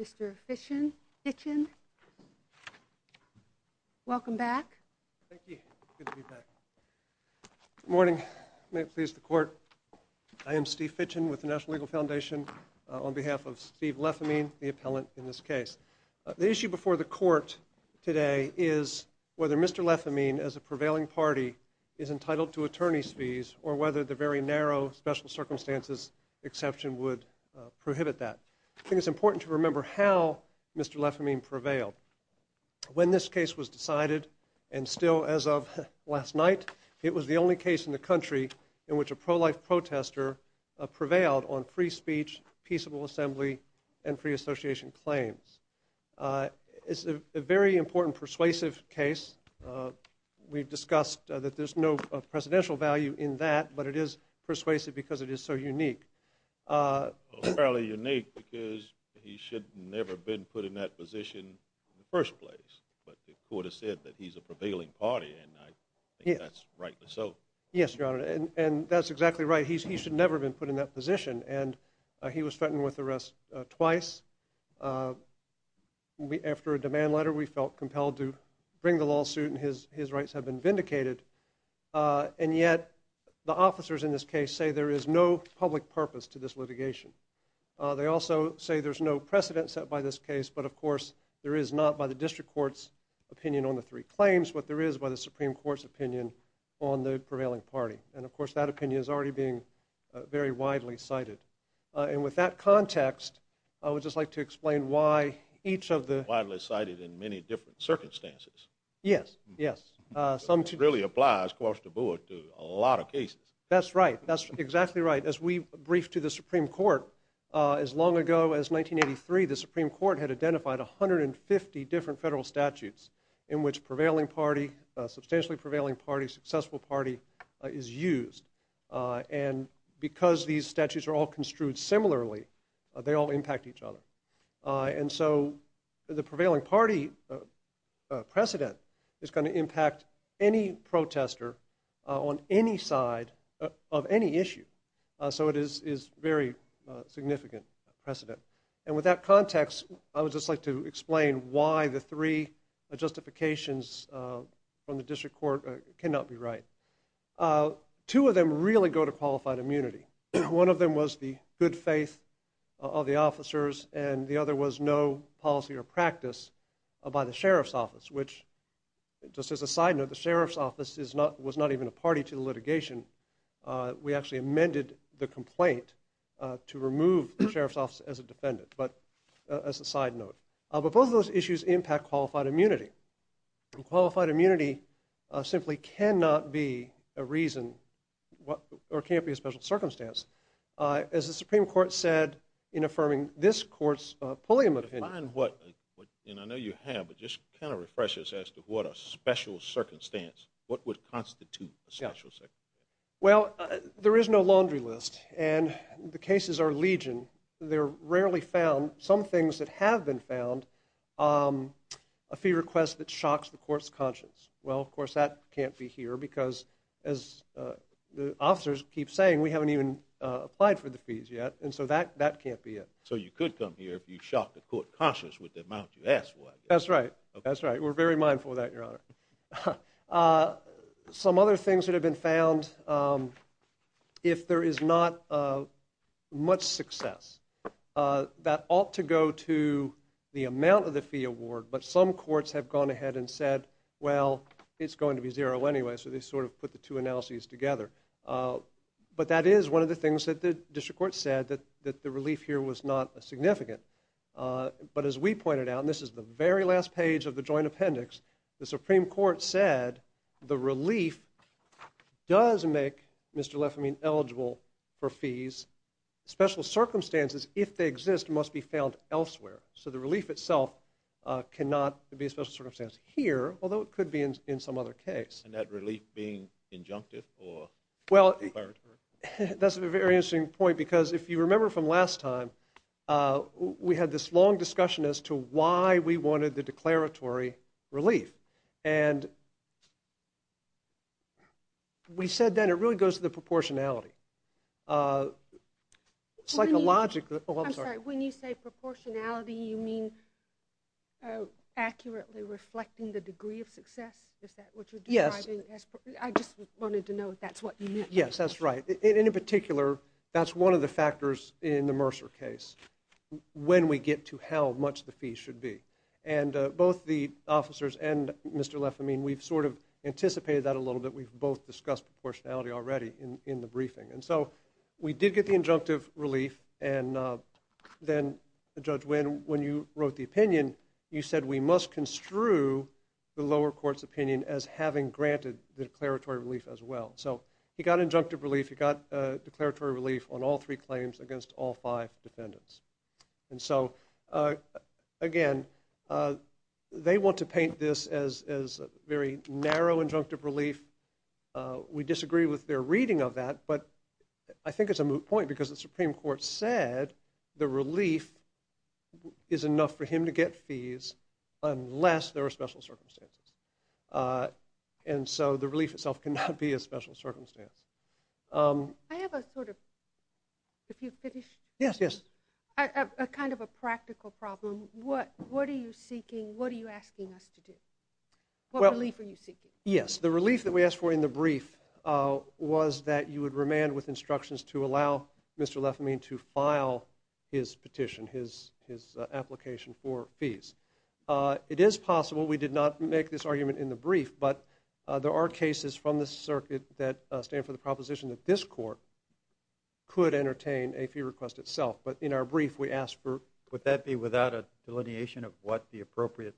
Mr. Fitchin, welcome back. Thank you. Good to be back. Good morning. May it please the court. I am Steve Fitchin with the National Legal Foundation on behalf of Steve Lefemine, the appellant in this case. The issue before the court today is whether Mr. Lefemine as a prevailing party is entitled to attorney's fees or whether the very narrow special circumstances exception would prohibit that. I think it's important to remember how Mr. Lefemine prevailed. When this case was decided, and still as of last night, it was the only case in the country in which a pro-life protester prevailed on free speech, peaceable assembly, and free association claims. It's a very important persuasive case. We've discussed that there's no presidential value in that, but it is persuasive because it is so unique. Fairly unique because he should never have been put in that position in the first place, but the court has said that he's a prevailing party, and I think that's rightly so. Yes, Your Honor, and that's exactly right. He should never have been put in that position, and he was threatened with arrest twice. After a demand letter, we felt compelled to bring the lawsuit, and his rights have been vindicated, and yet the officers in this case say there is no public purpose to this litigation. They also say there's no precedent set by this case, but, of course, there is not by the district court's opinion on the three claims what there is by the Supreme Court's opinion on the prevailing party, and, of course, that opinion is already being very widely cited. And with that context, I would just like to explain why each of the… Widely cited in many different circumstances. Yes, yes. It really applies, of course, to a lot of cases. That's right. That's exactly right. As we briefed to the Supreme Court as long ago as 1983, the Supreme Court had identified 150 different federal statutes in which prevailing party, substantially prevailing party, successful party is used, and because these statutes are all construed similarly, they all impact each other. And so the prevailing party precedent is going to impact any protester on any side of any issue. So it is very significant precedent. And with that context, I would just like to explain why the three justifications from the district court cannot be right. Two of them really go to qualified immunity. One of them was the good faith of the officers, and the other was no policy or practice by the sheriff's office, which, just as a side note, the sheriff's office was not even a party to the litigation. We actually amended the complaint to remove the sheriff's office as a defendant, but as a side note. But both of those issues impact qualified immunity. And qualified immunity simply cannot be a reason or can't be a special circumstance. As the Supreme Court said in affirming this court's Pulliam opinion. I know you have, but just kind of refresh us as to what a special circumstance, what would constitute a special circumstance? Well, there is no laundry list, and the cases are legion. They're rarely found. Some things that have been found, a fee request that shocks the court's conscience. Well, of course, that can't be here, because as the officers keep saying, we haven't even applied for the fees yet, and so that can't be it. So you could come here if you shocked the court's conscience with the amount you asked for. That's right. That's right. We're very mindful of that, Your Honor. Some other things that have been found, if there is not much success, that ought to go to the amount of the fee award, but some courts have gone ahead and said, well, it's going to be zero anyway, so they sort of put the two analyses together. But that is one of the things that the district court said, that the relief here was not significant. But as we pointed out, and this is the very last page of the joint appendix, the Supreme Court said the relief does make Mr. Lefamine eligible for fees. Special circumstances, if they exist, must be found elsewhere. So the relief itself cannot be a special circumstance here, although it could be in some other case. And that relief being injunctive or declaratory? That's a very interesting point, because if you remember from last time, we had this long discussion as to why we wanted the declaratory relief. And we said then it really goes to the proportionality. Psychologically. I'm sorry, when you say proportionality, you mean accurately reflecting the degree of success? Is that what you're describing? Yes. I just wanted to know if that's what you mean. Yes, that's right. And in particular, that's one of the factors in the Mercer case, when we get to how much the fee should be. And both the officers and Mr. Lefamine, we've sort of anticipated that a little bit. We've both discussed proportionality already in the briefing. And so we did get the injunctive relief. And then, Judge Winn, when you wrote the opinion, you said we must construe the lower court's opinion as having granted the declaratory relief as well. So he got injunctive relief. He got declaratory relief on all three claims against all five defendants. And so, again, they want to paint this as very narrow injunctive relief. We disagree with their reading of that. But I think it's a moot point, because the Supreme Court said the relief is enough for him to get fees unless there are special circumstances. And so the relief itself cannot be a special circumstance. I have a sort of, if you finish? Yes, yes. A kind of a practical problem. What are you seeking? What are you asking us to do? What relief are you seeking? Yes, the relief that we asked for in the brief was that you would remand with instructions to allow Mr. Lefamine to file his petition, his application for fees. It is possible. We did not make this argument in the brief. But there are cases from the circuit that stand for the proposition that this court could entertain a fee request itself. But in our brief, we asked for… Would that be without a delineation of what the appropriate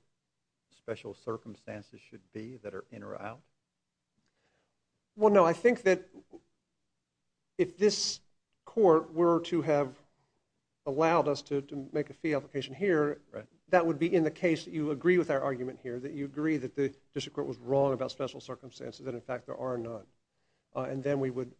special circumstances should be that are in or out? Well, no. I think that if this court were to have allowed us to make a fee application here, that would be in the case that you agree with our argument here, that you agree that the district court was wrong about special circumstances, that, in fact, there are none. And then we would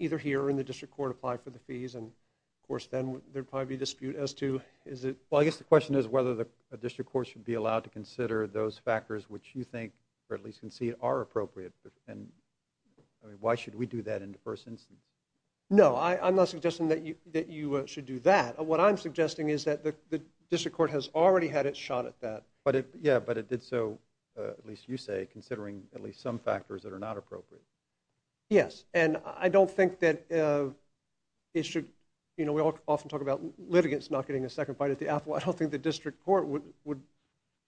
either here or in the district court apply for the fees. And, of course, then there would probably be a dispute as to is it… Well, I guess the question is whether the district court should be allowed to consider those factors which you think or at least concede are appropriate. And why should we do that in the first instance? No, I'm not suggesting that you should do that. What I'm suggesting is that the district court has already had its shot at that. Yeah, but it did so, at least you say, considering at least some factors that are not appropriate. Yes. And I don't think that it should… You know, we often talk about litigants not getting a second bite at the apple. I don't think the district court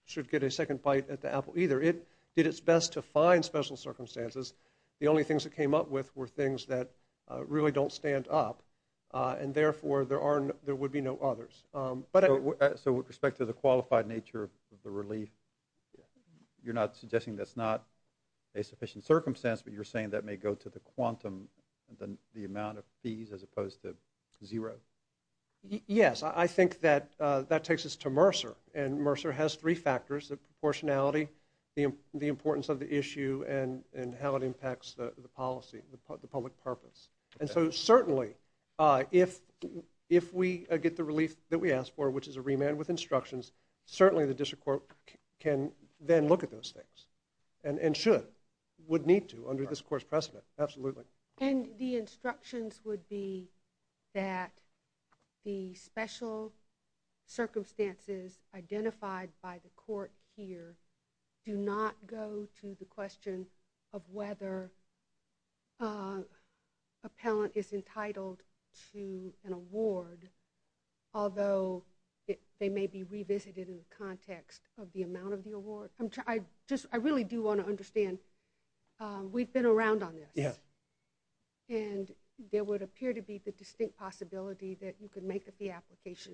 should get a second bite at the apple either. It did its best to find special circumstances. The only things it came up with were things that really don't stand up. And, therefore, there would be no others. So with respect to the qualified nature of the relief, you're not suggesting that's not a sufficient circumstance, but you're saying that may go to the quantum, the amount of fees as opposed to zero? Yes, I think that that takes us to Mercer. And Mercer has three factors, the proportionality, the importance of the issue, and how it impacts the policy, the public purpose. And so, certainly, if we get the relief that we asked for, which is a remand with instructions, certainly the district court can then look at those things and should, would need to under this court's precedent. Absolutely. And the instructions would be that the special circumstances identified by the court here do not go to the question of whether an appellant is entitled to an award, although they may be revisited in the context of the amount of the award. I really do want to understand, we've been around on this, and there would appear to be the distinct possibility that you could make up the application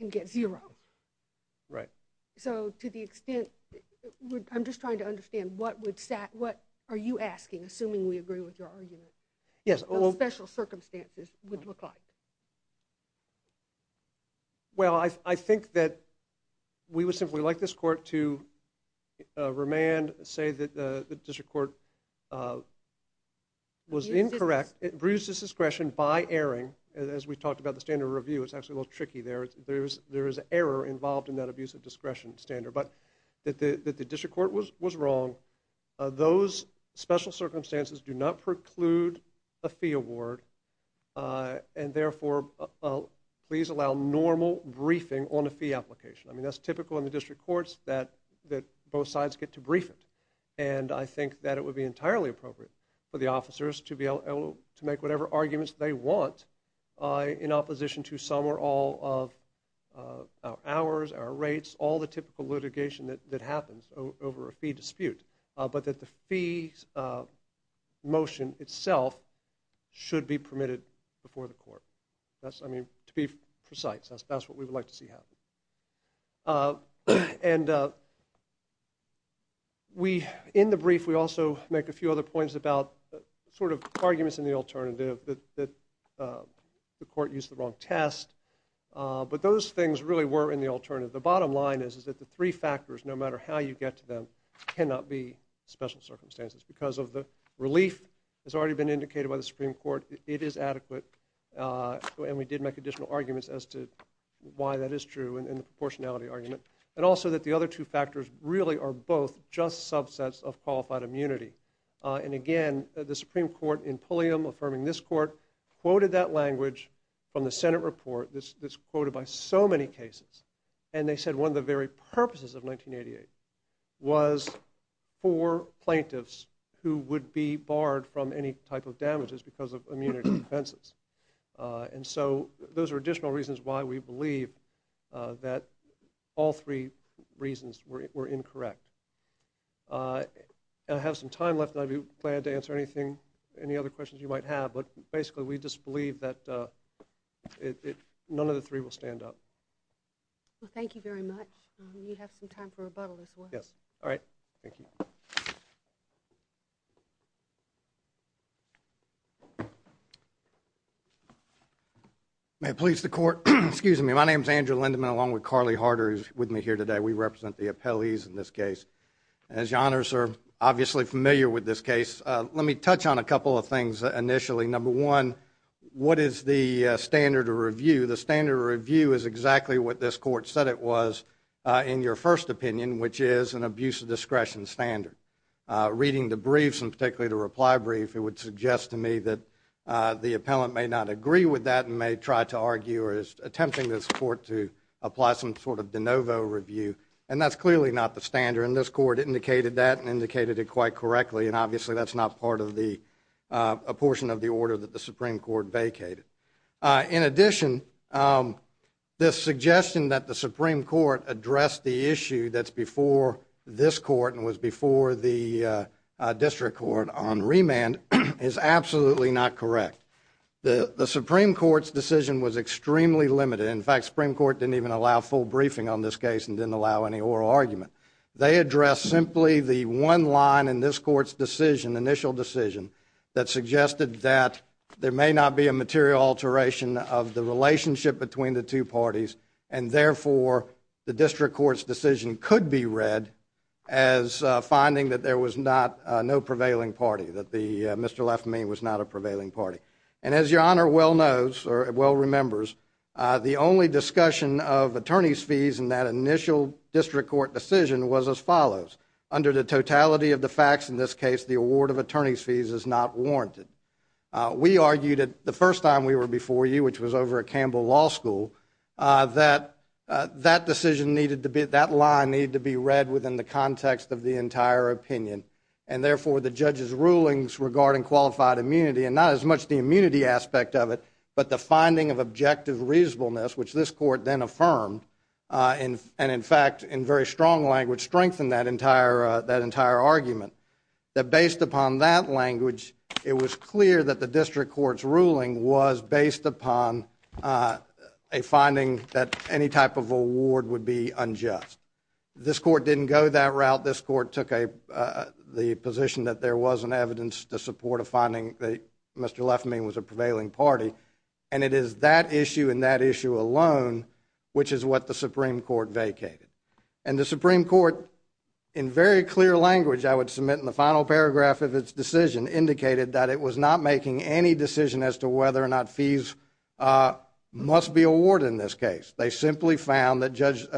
and get zero. Right. So to the extent, I'm just trying to understand, what are you asking, assuming we agree with your argument, what the special circumstances would look like? Well, I think that we would simply like this court to remand, say that the district court was incorrect, it brews discretion by erring, as we talked about the standard review, it's actually a little tricky there, there is error involved in that abuse of discretion standard, but that the district court was wrong, those special circumstances do not preclude a fee award, and therefore please allow normal briefing on a fee application. I mean, that's typical in the district courts, that both sides get to brief it. And I think that it would be entirely appropriate for the officers to be able to make whatever arguments they want in opposition to some or all of our hours, our rates, all the typical litigation that happens over a fee dispute, but that the fee motion itself should be permitted before the court. That's, I mean, to be precise, that's what we would like to see happen. And we, in the brief, we also make a few other points about sort of arguments in the alternative, that the court used the wrong test, but those things really were in the alternative. The bottom line is that the three factors, no matter how you get to them, cannot be special circumstances. Because of the relief that's already been indicated by the Supreme Court, it is adequate, and we did make additional arguments as to why that is true in the proportionality argument, and also that the other two factors really are both just subsets of qualified immunity. And again, the Supreme Court in Pulliam, affirming this court, quoted that language from the Senate report, that's quoted by so many cases, and they said one of the very purposes of 1988 was for plaintiffs who would be barred from any type of damages because of immunity defenses. And so those are additional reasons why we believe that all three reasons were incorrect. And I have some time left, and I'd be glad to answer anything, any other questions you might have, but basically we just believe that none of the three will stand up. Well, thank you very much. You have some time for rebuttal as well. Yes. All right. Thank you. May it please the Court. Excuse me. My name is Andrew Lindeman, along with Carly Harder, who's with me here today. We represent the appellees in this case. As your Honors are obviously familiar with this case, let me touch on a couple of things initially. Number one, what is the standard of review? The standard of review is exactly what this Court said it was in your first opinion, which is an abuse of discretion standard. Reading the briefs, and particularly the reply brief, it would suggest to me that the appellant may not agree with that and may try to argue or is attempting this Court to apply some sort of de novo review, and that's clearly not the standard. And this Court indicated that and indicated it quite correctly, and obviously that's not part of the portion of the order that the Supreme Court vacated. In addition, this suggestion that the Supreme Court addressed the issue that's before this Court and was before the District Court on remand is absolutely not correct. The Supreme Court's decision was extremely limited. In fact, the Supreme Court didn't even allow a full briefing on this case and didn't allow any oral argument. They addressed simply the one line in this Court's decision, initial decision, that suggested that there may not be a material alteration of the relationship between the two parties, and therefore the District Court's decision could be read as finding that there was no prevailing party, that Mr. Lefmy was not a prevailing party. And as Your Honor well knows or well remembers, the only discussion of attorney's fees in that initial District Court decision was as follows. Under the totality of the facts in this case, the award of attorney's fees is not warranted. We argued that the first time we were before you, which was over at Campbell Law School, that that line needed to be read within the context of the entire opinion, and therefore the judge's rulings regarding qualified immunity, and not as much the immunity aspect of it, but the finding of objective reasonableness, which this Court then affirmed, and in fact in very strong language strengthened that entire argument, that based upon that language, it was clear that the District Court's ruling was based upon a finding that any type of award would be unjust. This Court didn't go that route. This Court took the position that there wasn't evidence to support a finding that Mr. Lefmy was a prevailing party, and it is that issue and that issue alone which is what the Supreme Court vacated. And the Supreme Court, in very clear language I would submit in the final paragraph of its decision, indicated that it was not making any decision as to whether or not fees must be awarded in this case. They simply found that Mr.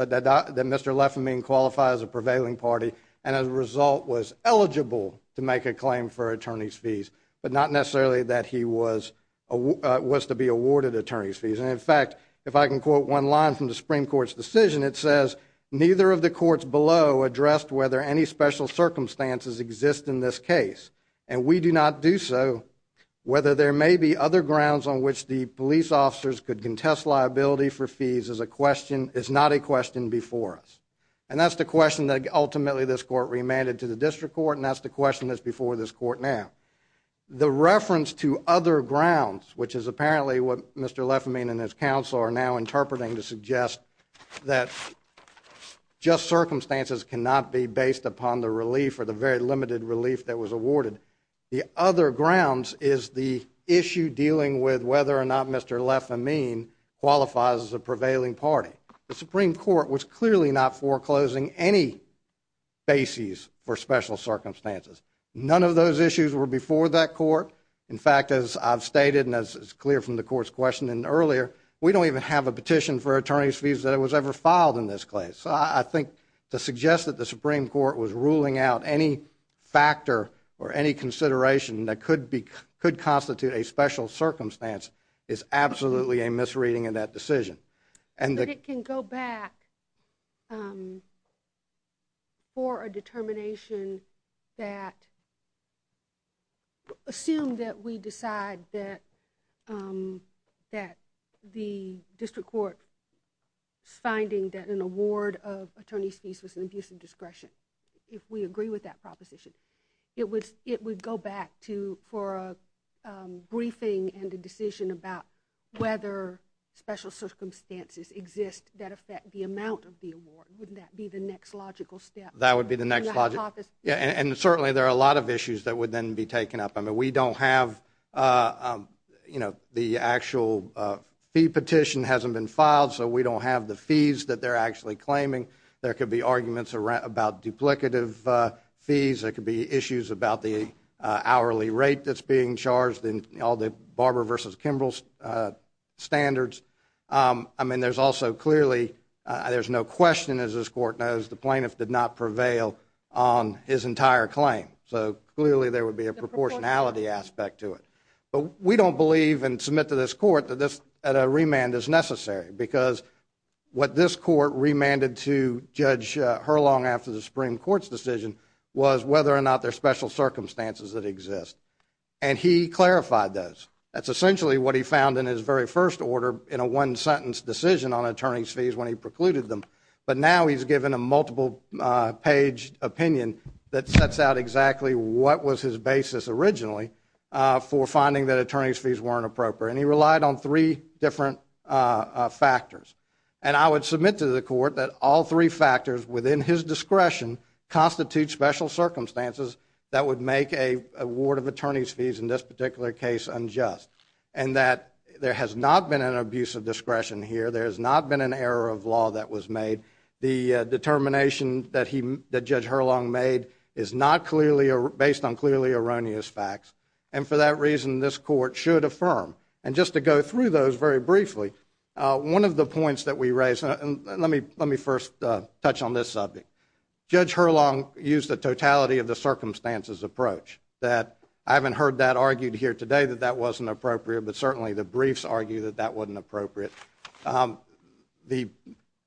Lefmy qualified as a prevailing party, and as a result was eligible to make a claim for attorney's fees, but not necessarily that he was to be awarded attorney's fees. And in fact, if I can quote one line from the Supreme Court's decision, it says, neither of the courts below addressed whether any special circumstances exist in this case, and we do not do so whether there may be other grounds on which the police officers could contest liability for fees is not a question before us. And that's the question that ultimately this Court remanded to the District Court, and that's the question that's before this Court now. The reference to other grounds, which is apparently what Mr. Lefmy and his counsel are now interpreting to suggest that just circumstances cannot be based upon the relief or the very limited relief that was awarded, the other grounds is the issue dealing with whether or not Mr. Lefmy qualifies as a prevailing party. The Supreme Court was clearly not foreclosing any bases for special circumstances. None of those issues were before that Court. In fact, as I've stated and as is clear from the Court's question earlier, we don't even have a petition for attorney's fees that was ever filed in this case. So I think to suggest that the Supreme Court was ruling out any factor or any consideration that could constitute a special circumstance is absolutely a misreading in that decision. But it can go back for a determination that, assume that we decide that the District Court's finding that an award of attorney's fees was an abuse of discretion, if we agree with that proposition. It would go back for a briefing and a decision about whether special circumstances exist that affect the amount of the award. Wouldn't that be the next logical step? That would be the next logical step. And certainly there are a lot of issues that would then be taken up. I mean, we don't have, you know, the actual fee petition hasn't been filed, so we don't have the fees that they're actually claiming. There could be arguments about duplicative fees. There could be issues about the hourly rate that's being charged in all the Barber v. Kimball standards. I mean, there's also clearly, there's no question, as this Court knows, the plaintiff did not prevail on his entire claim. So clearly there would be a proportionality aspect to it. But we don't believe and submit to this Court that a remand is necessary because what this Court remanded to Judge Hurlong after the Supreme Court's decision was whether or not there are special circumstances that exist. And he clarified those. That's essentially what he found in his very first order in a one-sentence decision on attorney's fees when he precluded them. But now he's given a multiple-page opinion that sets out exactly what was his basis originally for finding that attorney's fees weren't appropriate. And he relied on three different factors. And I would submit to the Court that all three factors within his discretion constitute special circumstances that would make a ward of attorney's fees in this particular case unjust. And that there has not been an abuse of discretion here. There has not been an error of law that was made. The determination that Judge Hurlong made is not based on clearly erroneous facts. And for that reason, this Court should affirm. And just to go through those very briefly, one of the points that we raised, and let me first touch on this subject. Judge Hurlong used a totality of the circumstances approach. I haven't heard that argued here today that that wasn't appropriate, but certainly the briefs argue that that wasn't appropriate. The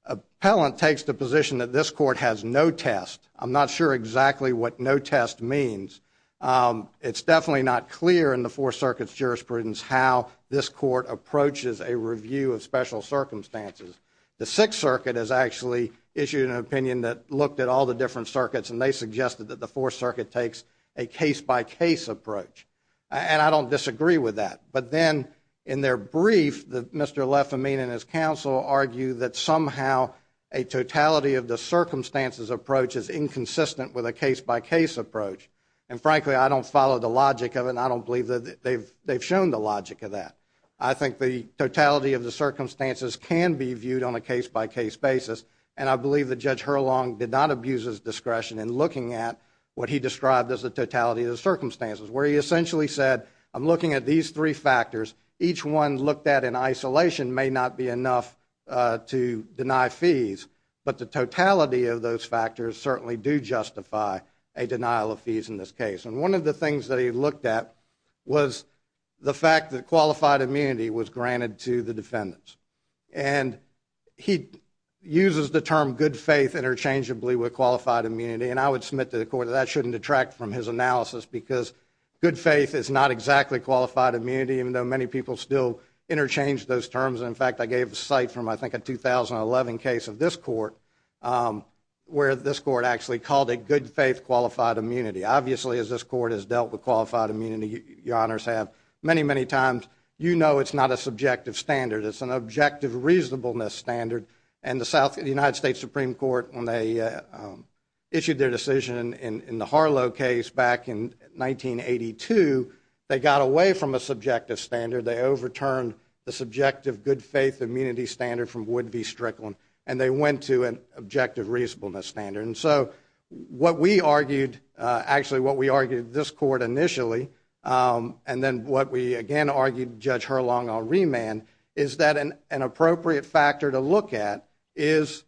appellant takes the position that this Court has no test. I'm not sure exactly what no test means. It's definitely not clear in the Fourth Circuit's jurisprudence how this Court approaches a review of special circumstances. The Sixth Circuit has actually issued an opinion that looked at all the different circuits, and they suggested that the Fourth Circuit takes a case-by-case approach. And I don't disagree with that. But then in their brief, Mr. Lefamine and his counsel argue that somehow a totality of the circumstances approach is inconsistent with a case-by-case approach. And frankly, I don't follow the logic of it, and I don't believe that they've shown the logic of that. I think the totality of the circumstances can be viewed on a case-by-case basis, and I believe that Judge Hurlong did not abuse his discretion in looking at what he described as the totality of the circumstances, where he essentially said, I'm looking at these three factors. Each one looked at in isolation may not be enough to deny fees, but the totality of those factors certainly do justify a denial of fees in this case. And one of the things that he looked at was the fact that qualified immunity was granted to the defendants. And he uses the term good faith interchangeably with qualified immunity, and I would submit to the Court that that shouldn't detract from his analysis because good faith is not exactly qualified immunity, even though many people still interchange those terms. In fact, I gave a cite from, I think, a 2011 case of this Court, where this Court actually called it good faith qualified immunity. Obviously, as this Court has dealt with qualified immunity, Your Honors have many, many times, you know it's not a subjective standard. It's an objective reasonableness standard, and the United States Supreme Court, when they issued their decision in the Harlow case back in 1982, they got away from a subjective standard. They overturned the subjective good faith immunity standard from Wood v. Strickland, and they went to an objective reasonableness standard. And so what we argued, actually what we argued this Court initially, and then what we again argued Judge Herlong on remand, is that an appropriate factor to look at is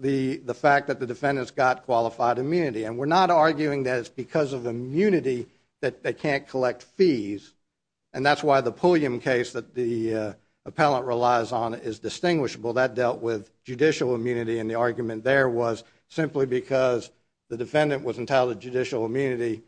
the fact that the defendant's got qualified immunity. And we're not arguing that it's because of immunity that they can't collect fees, and that's why the Pulliam case that the appellant relies on is distinguishable. That dealt with judicial immunity, and the argument there was simply because the defendant was entitled to judicial immunity,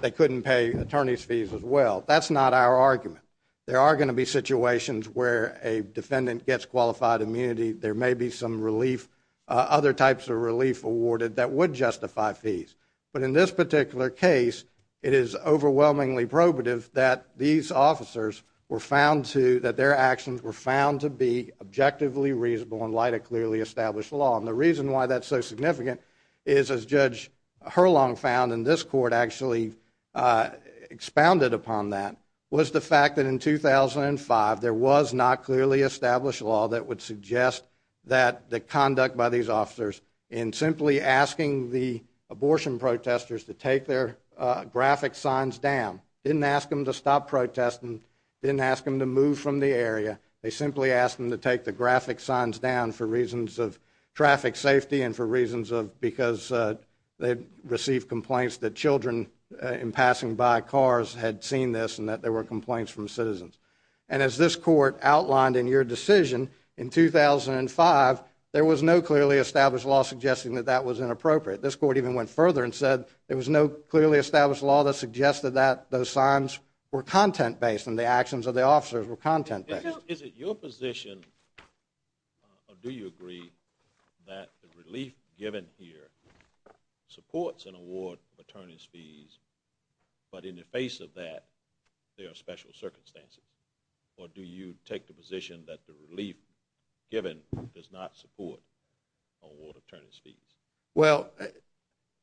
they couldn't pay attorney's fees as well. That's not our argument. There are going to be situations where a defendant gets qualified immunity. There may be some relief, other types of relief awarded that would justify fees. But in this particular case, it is overwhelmingly probative that these officers were found to, that their actions were found to be objectively reasonable in light of clearly established law. And the reason why that's so significant is, as Judge Herlong found, and this Court actually expounded upon that, was the fact that in 2005 there was not clearly established law that would suggest that the conduct by these officers in simply asking the abortion protesters to take their graphic signs down, didn't ask them to stop protesting, didn't ask them to move from the area, they simply asked them to take the graphic signs down for reasons of traffic safety and for reasons of because they received complaints that children in passing by cars had seen this and that there were complaints from citizens. And as this Court outlined in your decision in 2005, there was no clearly established law suggesting that that was inappropriate. This Court even went further and said there was no clearly established law that suggested that those signs were content-based and the actions of the officers were content-based. Is it your position, or do you agree, that the relief given here supports an award of attorney's fees, but in the face of that there are special circumstances? Or do you take the position that the relief given does not support an award of attorney's fees? Well,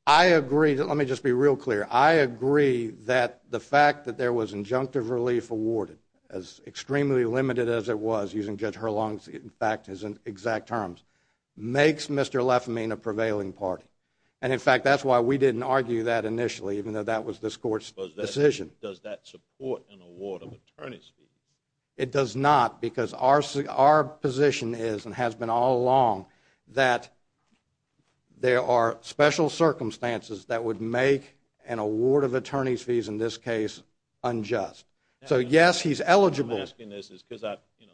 I agree. Let me just be real clear. I agree that the fact that there was injunctive relief awarded, as extremely limited as it was, using Judge Hurlong's exact terms, makes Mr. Lefamine a prevailing party. And, in fact, that's why we didn't argue that initially, even though that was this Court's decision. Does that support an award of attorney's fees? It does not, because our position is and has been all along that there are special circumstances that would make an award of attorney's fees, in this case, unjust. So, yes, he's eligible. The reason I'm asking this is because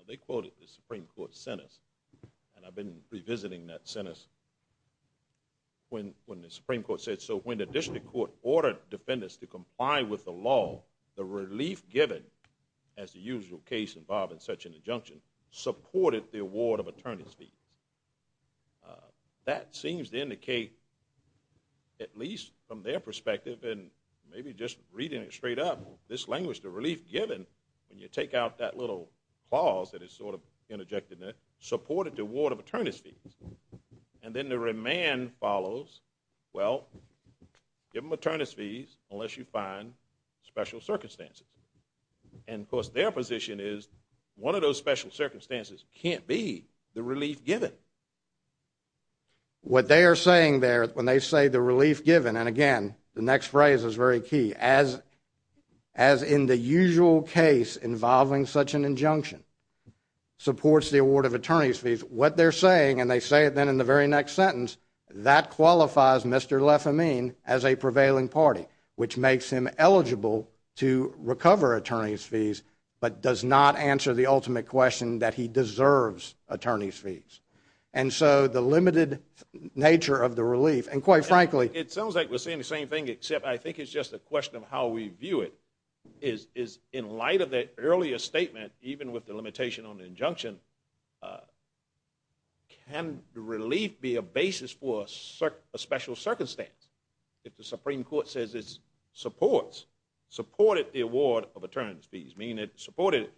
they quoted the Supreme Court sentence, and I've been revisiting that sentence, when the Supreme Court said, so when the District Court ordered defendants to comply with the law, the relief given, as the usual case involving such an injunction, supported the award of attorney's fees. That seems to indicate, at least from their perspective, and maybe just reading it straight up, this language, the relief given, when you take out that little clause that is sort of interjected in it, supported the award of attorney's fees. And then the remand follows, well, give them attorney's fees unless you find special circumstances. And, of course, their position is one of those special circumstances can't be the relief given. What they are saying there, when they say the relief given, and again, the next phrase is very key, as in the usual case involving such an injunction, supports the award of attorney's fees. What they're saying, and they say it then in the very next sentence, that qualifies Mr. Lefamine as a prevailing party, which makes him eligible to recover attorney's fees, but does not answer the ultimate question that he deserves attorney's fees. And so the limited nature of the relief, and quite frankly— It sounds like we're saying the same thing, except I think it's just a question of how we view it, is in light of that earlier statement, even with the limitation on the injunction, can relief be a basis for a special circumstance? If the Supreme Court says it supports, supported the award of attorney's fees, meaning it supported it,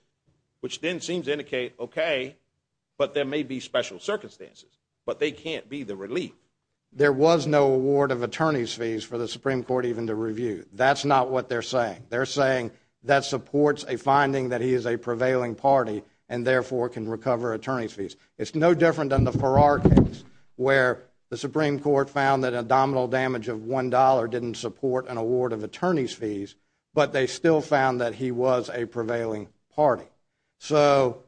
which then seems to indicate, okay, but there may be special circumstances, but they can't be the relief. There was no award of attorney's fees for the Supreme Court even to review. That's not what they're saying. They're saying that supports a finding that he is a prevailing party and therefore can recover attorney's fees. It's no different than the Farrar case, where the Supreme Court found that abdominal damage of $1 didn't support an award of attorney's fees, but they still found that he was a prevailing party. So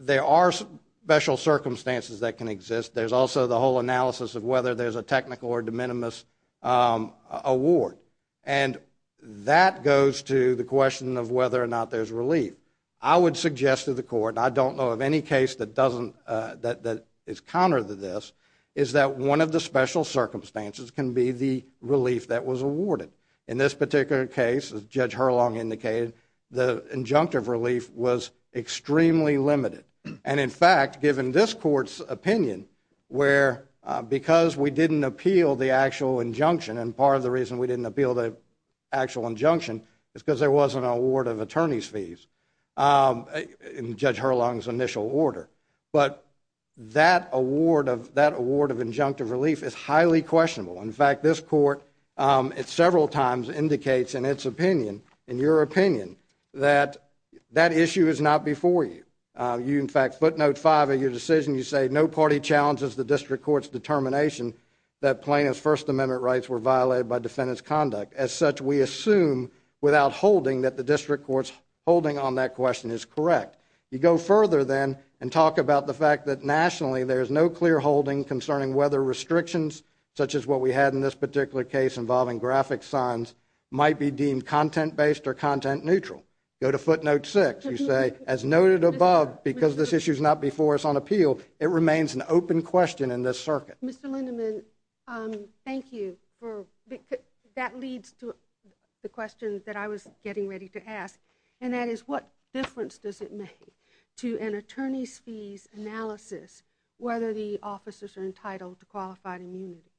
there are special circumstances that can exist. There's also the whole analysis of whether there's a technical or de minimis award, and that goes to the question of whether or not there's relief. I would suggest to the Court, and I don't know of any case that is counter to this, is that one of the special circumstances can be the relief that was awarded. In this particular case, as Judge Hurlong indicated, the injunctive relief was extremely limited. In fact, given this Court's opinion, where because we didn't appeal the actual injunction, and part of the reason we didn't appeal the actual injunction is because there wasn't an award of attorney's fees, in Judge Hurlong's initial order. But that award of injunctive relief is highly questionable. In fact, this Court several times indicates in its opinion, in your opinion, that that issue is not before you. You, in fact, footnote 5 of your decision. You say, No party challenges the District Court's determination that plaintiff's First Amendment rights were violated by defendant's conduct. As such, we assume without holding that the District Court's holding on that question is correct. You go further, then, and talk about the fact that nationally there is no clear holding concerning whether restrictions, such as what we had in this particular case involving graphic signs, might be deemed content-based or content-neutral. Go to footnote 6. You say, As noted above, because this issue is not before us on appeal, it remains an open question in this circuit. Mr. Lindeman, thank you. That leads to the question that I was getting ready to ask, and that is what difference does it make to an attorney's fees analysis whether the officers are entitled to qualified immunity?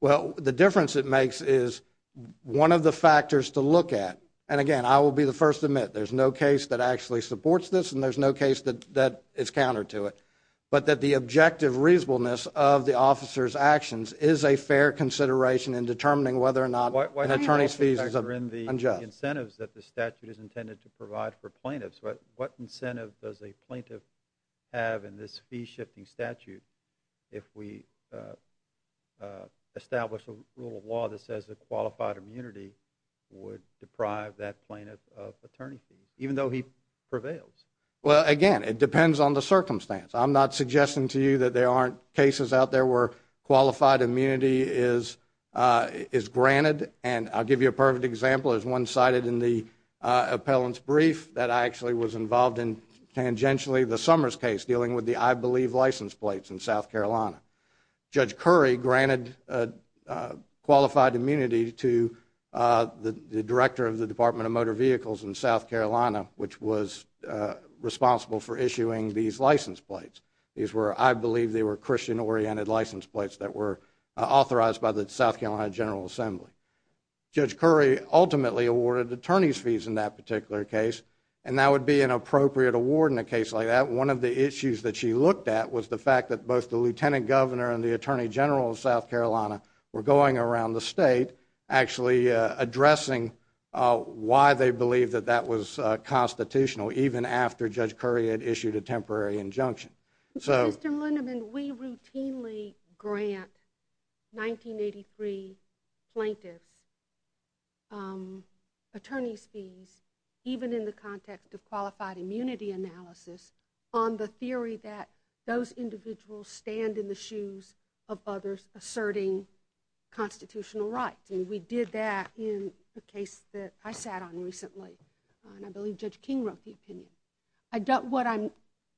Well, the difference it makes is one of the factors to look at, and again, I will be the first to admit, there's no case that actually supports this and there's no case that is counter to it, but that the objective reasonableness of the officers' actions is a fair consideration in determining whether or not an attorney's fees is unjust. The incentives that the statute is intended to provide for plaintiffs, what incentive does a plaintiff have in this fee-shifting statute if we establish a rule of law that says a qualified immunity would deprive that plaintiff of attorney fees, even though he prevails? Well, again, it depends on the circumstance. I'm not suggesting to you that there aren't cases out there where qualified immunity is granted, and I'll give you a perfect example. There's one cited in the appellant's brief that I actually was involved in tangentially, the Summers case, dealing with the I Believe license plates in South Carolina. Judge Currie granted qualified immunity to the director of the Department of Motor Vehicles in South Carolina, which was responsible for issuing these license plates. I believe they were Christian-oriented license plates that were authorized by the South Carolina General Assembly. Judge Currie ultimately awarded attorney's fees in that particular case, and that would be an appropriate award in a case like that. One of the issues that she looked at was the fact that both the lieutenant governor and the attorney general of South Carolina were going around the state actually addressing why they believed that that was constitutional, even after Judge Currie had issued a temporary injunction. Mr. Lindemann, we routinely grant 1983 plaintiff's attorney's fees, even in the context of qualified immunity analysis, on the theory that those individuals stand in the shoes of others asserting constitutional rights. We did that in a case that I sat on recently, and I believe Judge King wrote the opinion.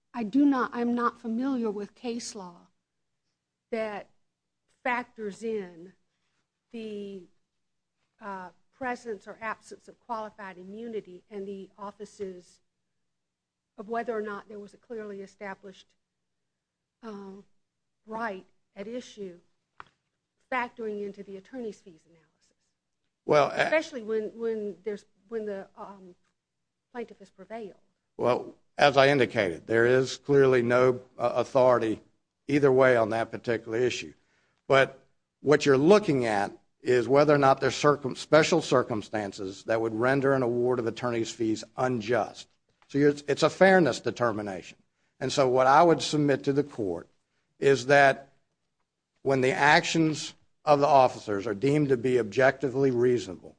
I'm not familiar with case law that factors in the presence or absence of qualified immunity in the offices of whether or not there was a clearly established right at issue, factoring into the attorney's fees analysis, especially when the plaintiff has prevailed. Well, as I indicated, there is clearly no authority either way on that particular issue. But what you're looking at is whether or not there's special circumstances that would render an award of attorney's fees unjust. It's a fairness determination. And so what I would submit to the court is that when the actions of the officers are deemed to be objectively reasonable,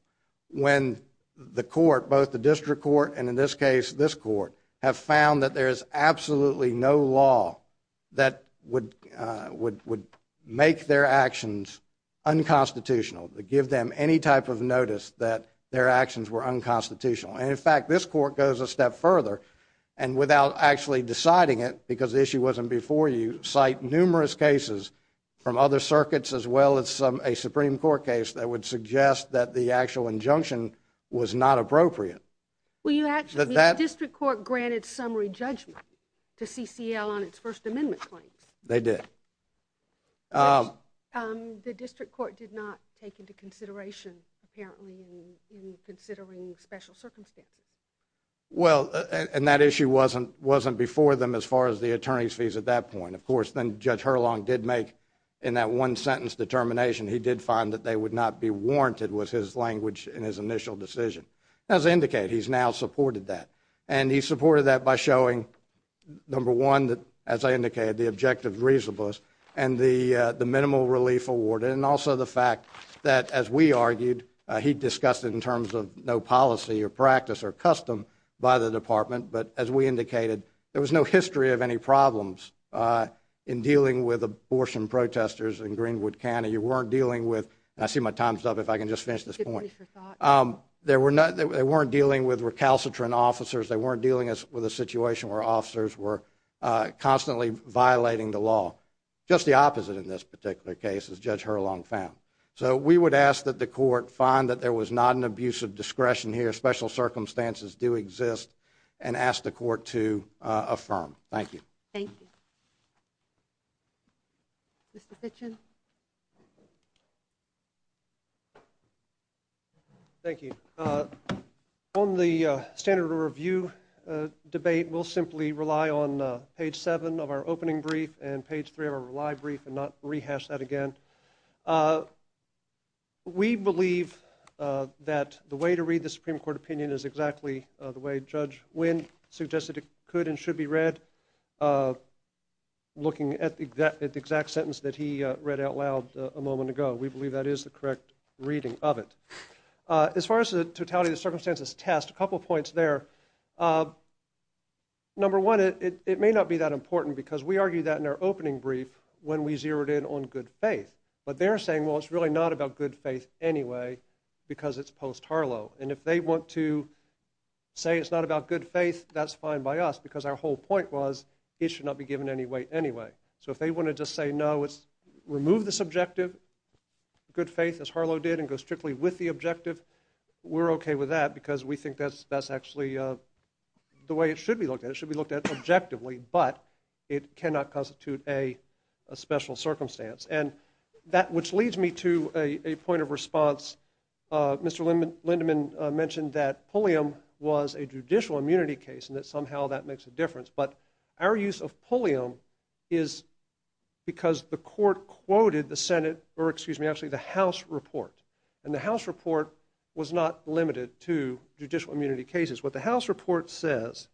when the court, both the district court and, in this case, this court, have found that there is absolutely no law that would make their actions unconstitutional, give them any type of notice that their actions were unconstitutional. And, in fact, this court goes a step further, and without actually deciding it, because the issue wasn't before you, cite numerous cases from other circuits as well as a Supreme Court case that would suggest that the actual injunction was not appropriate. The district court granted summary judgment to CCL on its First Amendment claims. They did. The district court did not take into consideration, apparently, in considering special circumstances. Well, and that issue wasn't before them as far as the attorney's fees at that point. And, of course, then Judge Hurlong did make, in that one-sentence determination, he did find that they would not be warranted was his language in his initial decision. As I indicated, he's now supported that. And he supported that by showing, number one, as I indicated, the objective reasonableness and the minimal relief award, and also the fact that, as we argued, he discussed it in terms of no policy or practice or custom by the department, but, as we indicated, there was no history of any problems in dealing with abortion protesters in Greenwood County. You weren't dealing with, and I see my time's up, if I can just finish this point. They weren't dealing with recalcitrant officers. They weren't dealing with a situation where officers were constantly violating the law. Just the opposite in this particular case, as Judge Hurlong found. So we would ask that the court find that there was not an abuse of discretion here, that there were special circumstances do exist, and ask the court to affirm. Thank you. Thank you. Mr. Kitchen. Thank you. On the standard of review debate, we'll simply rely on page 7 of our opening brief and page 3 of our live brief and not rehash that again. We believe that the way to read the Supreme Court opinion is exactly the way Judge Wynn suggested it could and should be read, looking at the exact sentence that he read out loud a moment ago. We believe that is the correct reading of it. As far as the totality of the circumstances test, a couple of points there. Number one, it may not be that important because we argued that in our opening brief when we zeroed in on good faith. But they're saying, well, it's really not about good faith anyway because it's post-Harlow. And if they want to say it's not about good faith, that's fine by us because our whole point was it should not be given any weight anyway. So if they want to just say, no, remove this objective, good faith as Harlow did, and go strictly with the objective, we're okay with that because we think that's actually the way it should be looked at. It should be looked at objectively, but it cannot constitute a special circumstance. And that which leads me to a point of response. Mr. Lindeman mentioned that Pulliam was a judicial immunity case and that somehow that makes a difference. But our use of Pulliam is because the court quoted the House report, and the House report was not limited to judicial immunity cases. What the House report says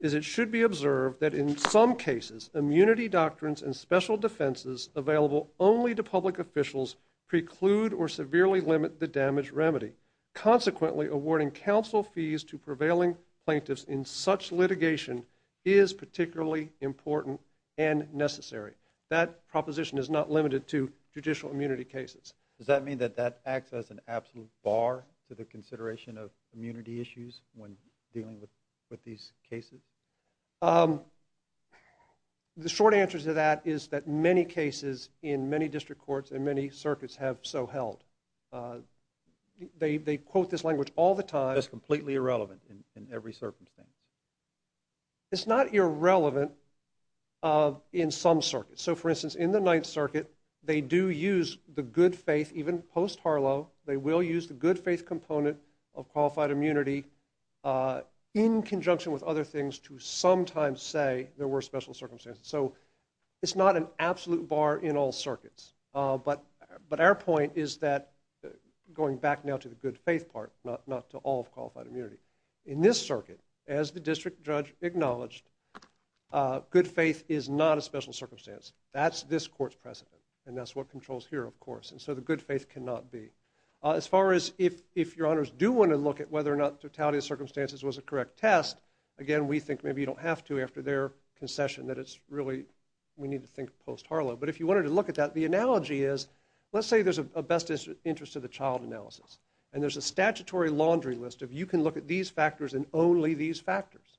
is it should be observed that in some cases, immunity doctrines and special defenses available only to public officials preclude or severely limit the damage remedy. Consequently, awarding counsel fees to prevailing plaintiffs in such litigation is particularly important and necessary. That proposition is not limited to judicial immunity cases. Does that mean that that acts as an absolute bar to the consideration of immunity issues when dealing with these cases? The short answer to that is that many cases in many district courts and many circuits have so held. They quote this language all the time. It's completely irrelevant in every circumstance. It's not irrelevant in some circuits. So, for instance, in the Ninth Circuit, they do use the good faith, even post-Harlow, they will use the good faith component of qualified immunity in conjunction with other things to sometimes say there were special circumstances. So it's not an absolute bar in all circuits. But our point is that, going back now to the good faith part, not to all of qualified immunity, in this circuit, as the district judge acknowledged, good faith is not a special circumstance. That's this court's precedent, and that's what controls here, of course. And so the good faith cannot be. As far as if your honors do want to look at whether or not totality of circumstances was a correct test, again, we think maybe you don't have to after their concession, that it's really, we need to think post-Harlow. But if you wanted to look at that, the analogy is, let's say there's a best interest of the child analysis, and there's a statutory laundry list of you can look at these factors and only these factors.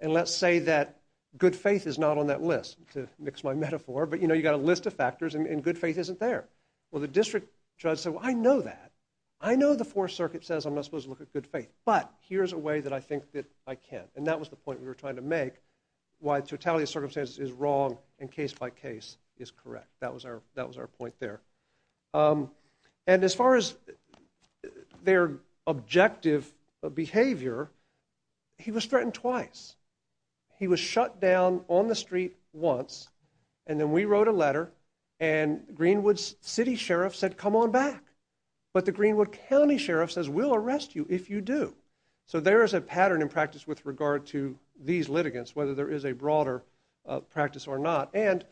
And let's say that good faith is not on that list, to mix my metaphor, but you know, you've got a list of factors and good faith isn't there. Well, the district judge said, well, I know that. I know the Fourth Circuit says I'm not supposed to look at good faith, but here's a way that I think that I can. And that was the point we were trying to make, why totality of circumstances is wrong and case by case is correct. That was our point there. And as far as their objective behavior, he was threatened twice. He was shut down on the street once, and then we wrote a letter, and Greenwood City Sheriff said, come on back. But the Greenwood County Sheriff says, we'll arrest you if you do. So there is a pattern in practice with regard to these litigants, whether there is a broader practice or not. And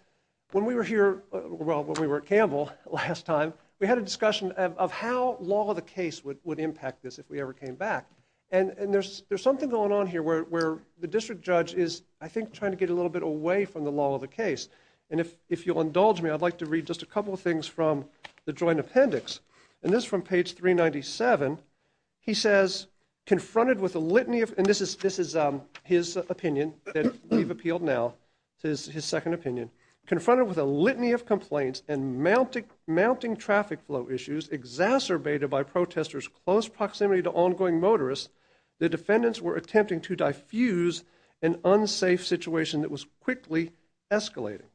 when we were here, well, when we were at Campbell last time, we had a discussion of how long the case would impact this if we ever came back. And there's something going on here where the district judge is, I think, trying to get a little bit away from the law of the case. And if you'll indulge me, I'd like to read just a couple of things from the joint appendix. And this is from page 397. He says, confronted with a litany of, and this is his opinion that we've appealed now to his second opinion, confronted with a litany of complaints and mounting traffic flow issues exacerbated by protesters' close proximity to ongoing motorists, the defendants were attempting to diffuse an unsafe situation that was quickly escalating.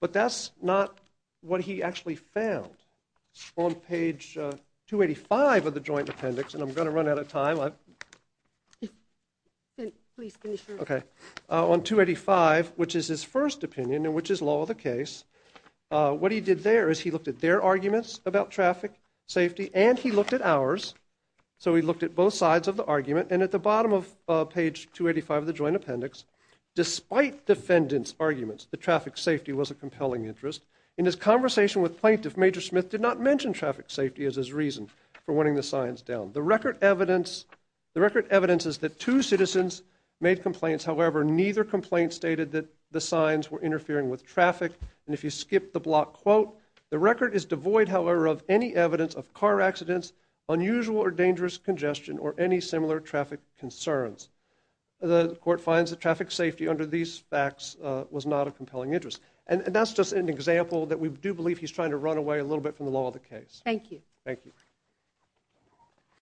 But that's not what he actually found. On page 285 of the joint appendix, and I'm going to run out of time. On 285, which is his first opinion and which is law of the case, what he did there is he looked at their arguments about traffic safety and he looked at ours. So he looked at both sides of the argument. And at the bottom of page 285 of the joint appendix, despite defendants' arguments that traffic safety was a compelling interest, in his conversation with plaintiff, Major Smith did not mention traffic safety as his reason for wanting the signs down. The record evidence is that two citizens made complaints. However, neither complaint stated that the signs were interfering with traffic. And if you skip the block quote, the record is devoid, however, of any evidence of car accidents, unusual or dangerous congestion, or any similar traffic concerns. The court finds that traffic safety under these facts was not a compelling interest. And that's just an example that we do believe he's trying to run away a little bit from the law of the case. Thank you. Thank you.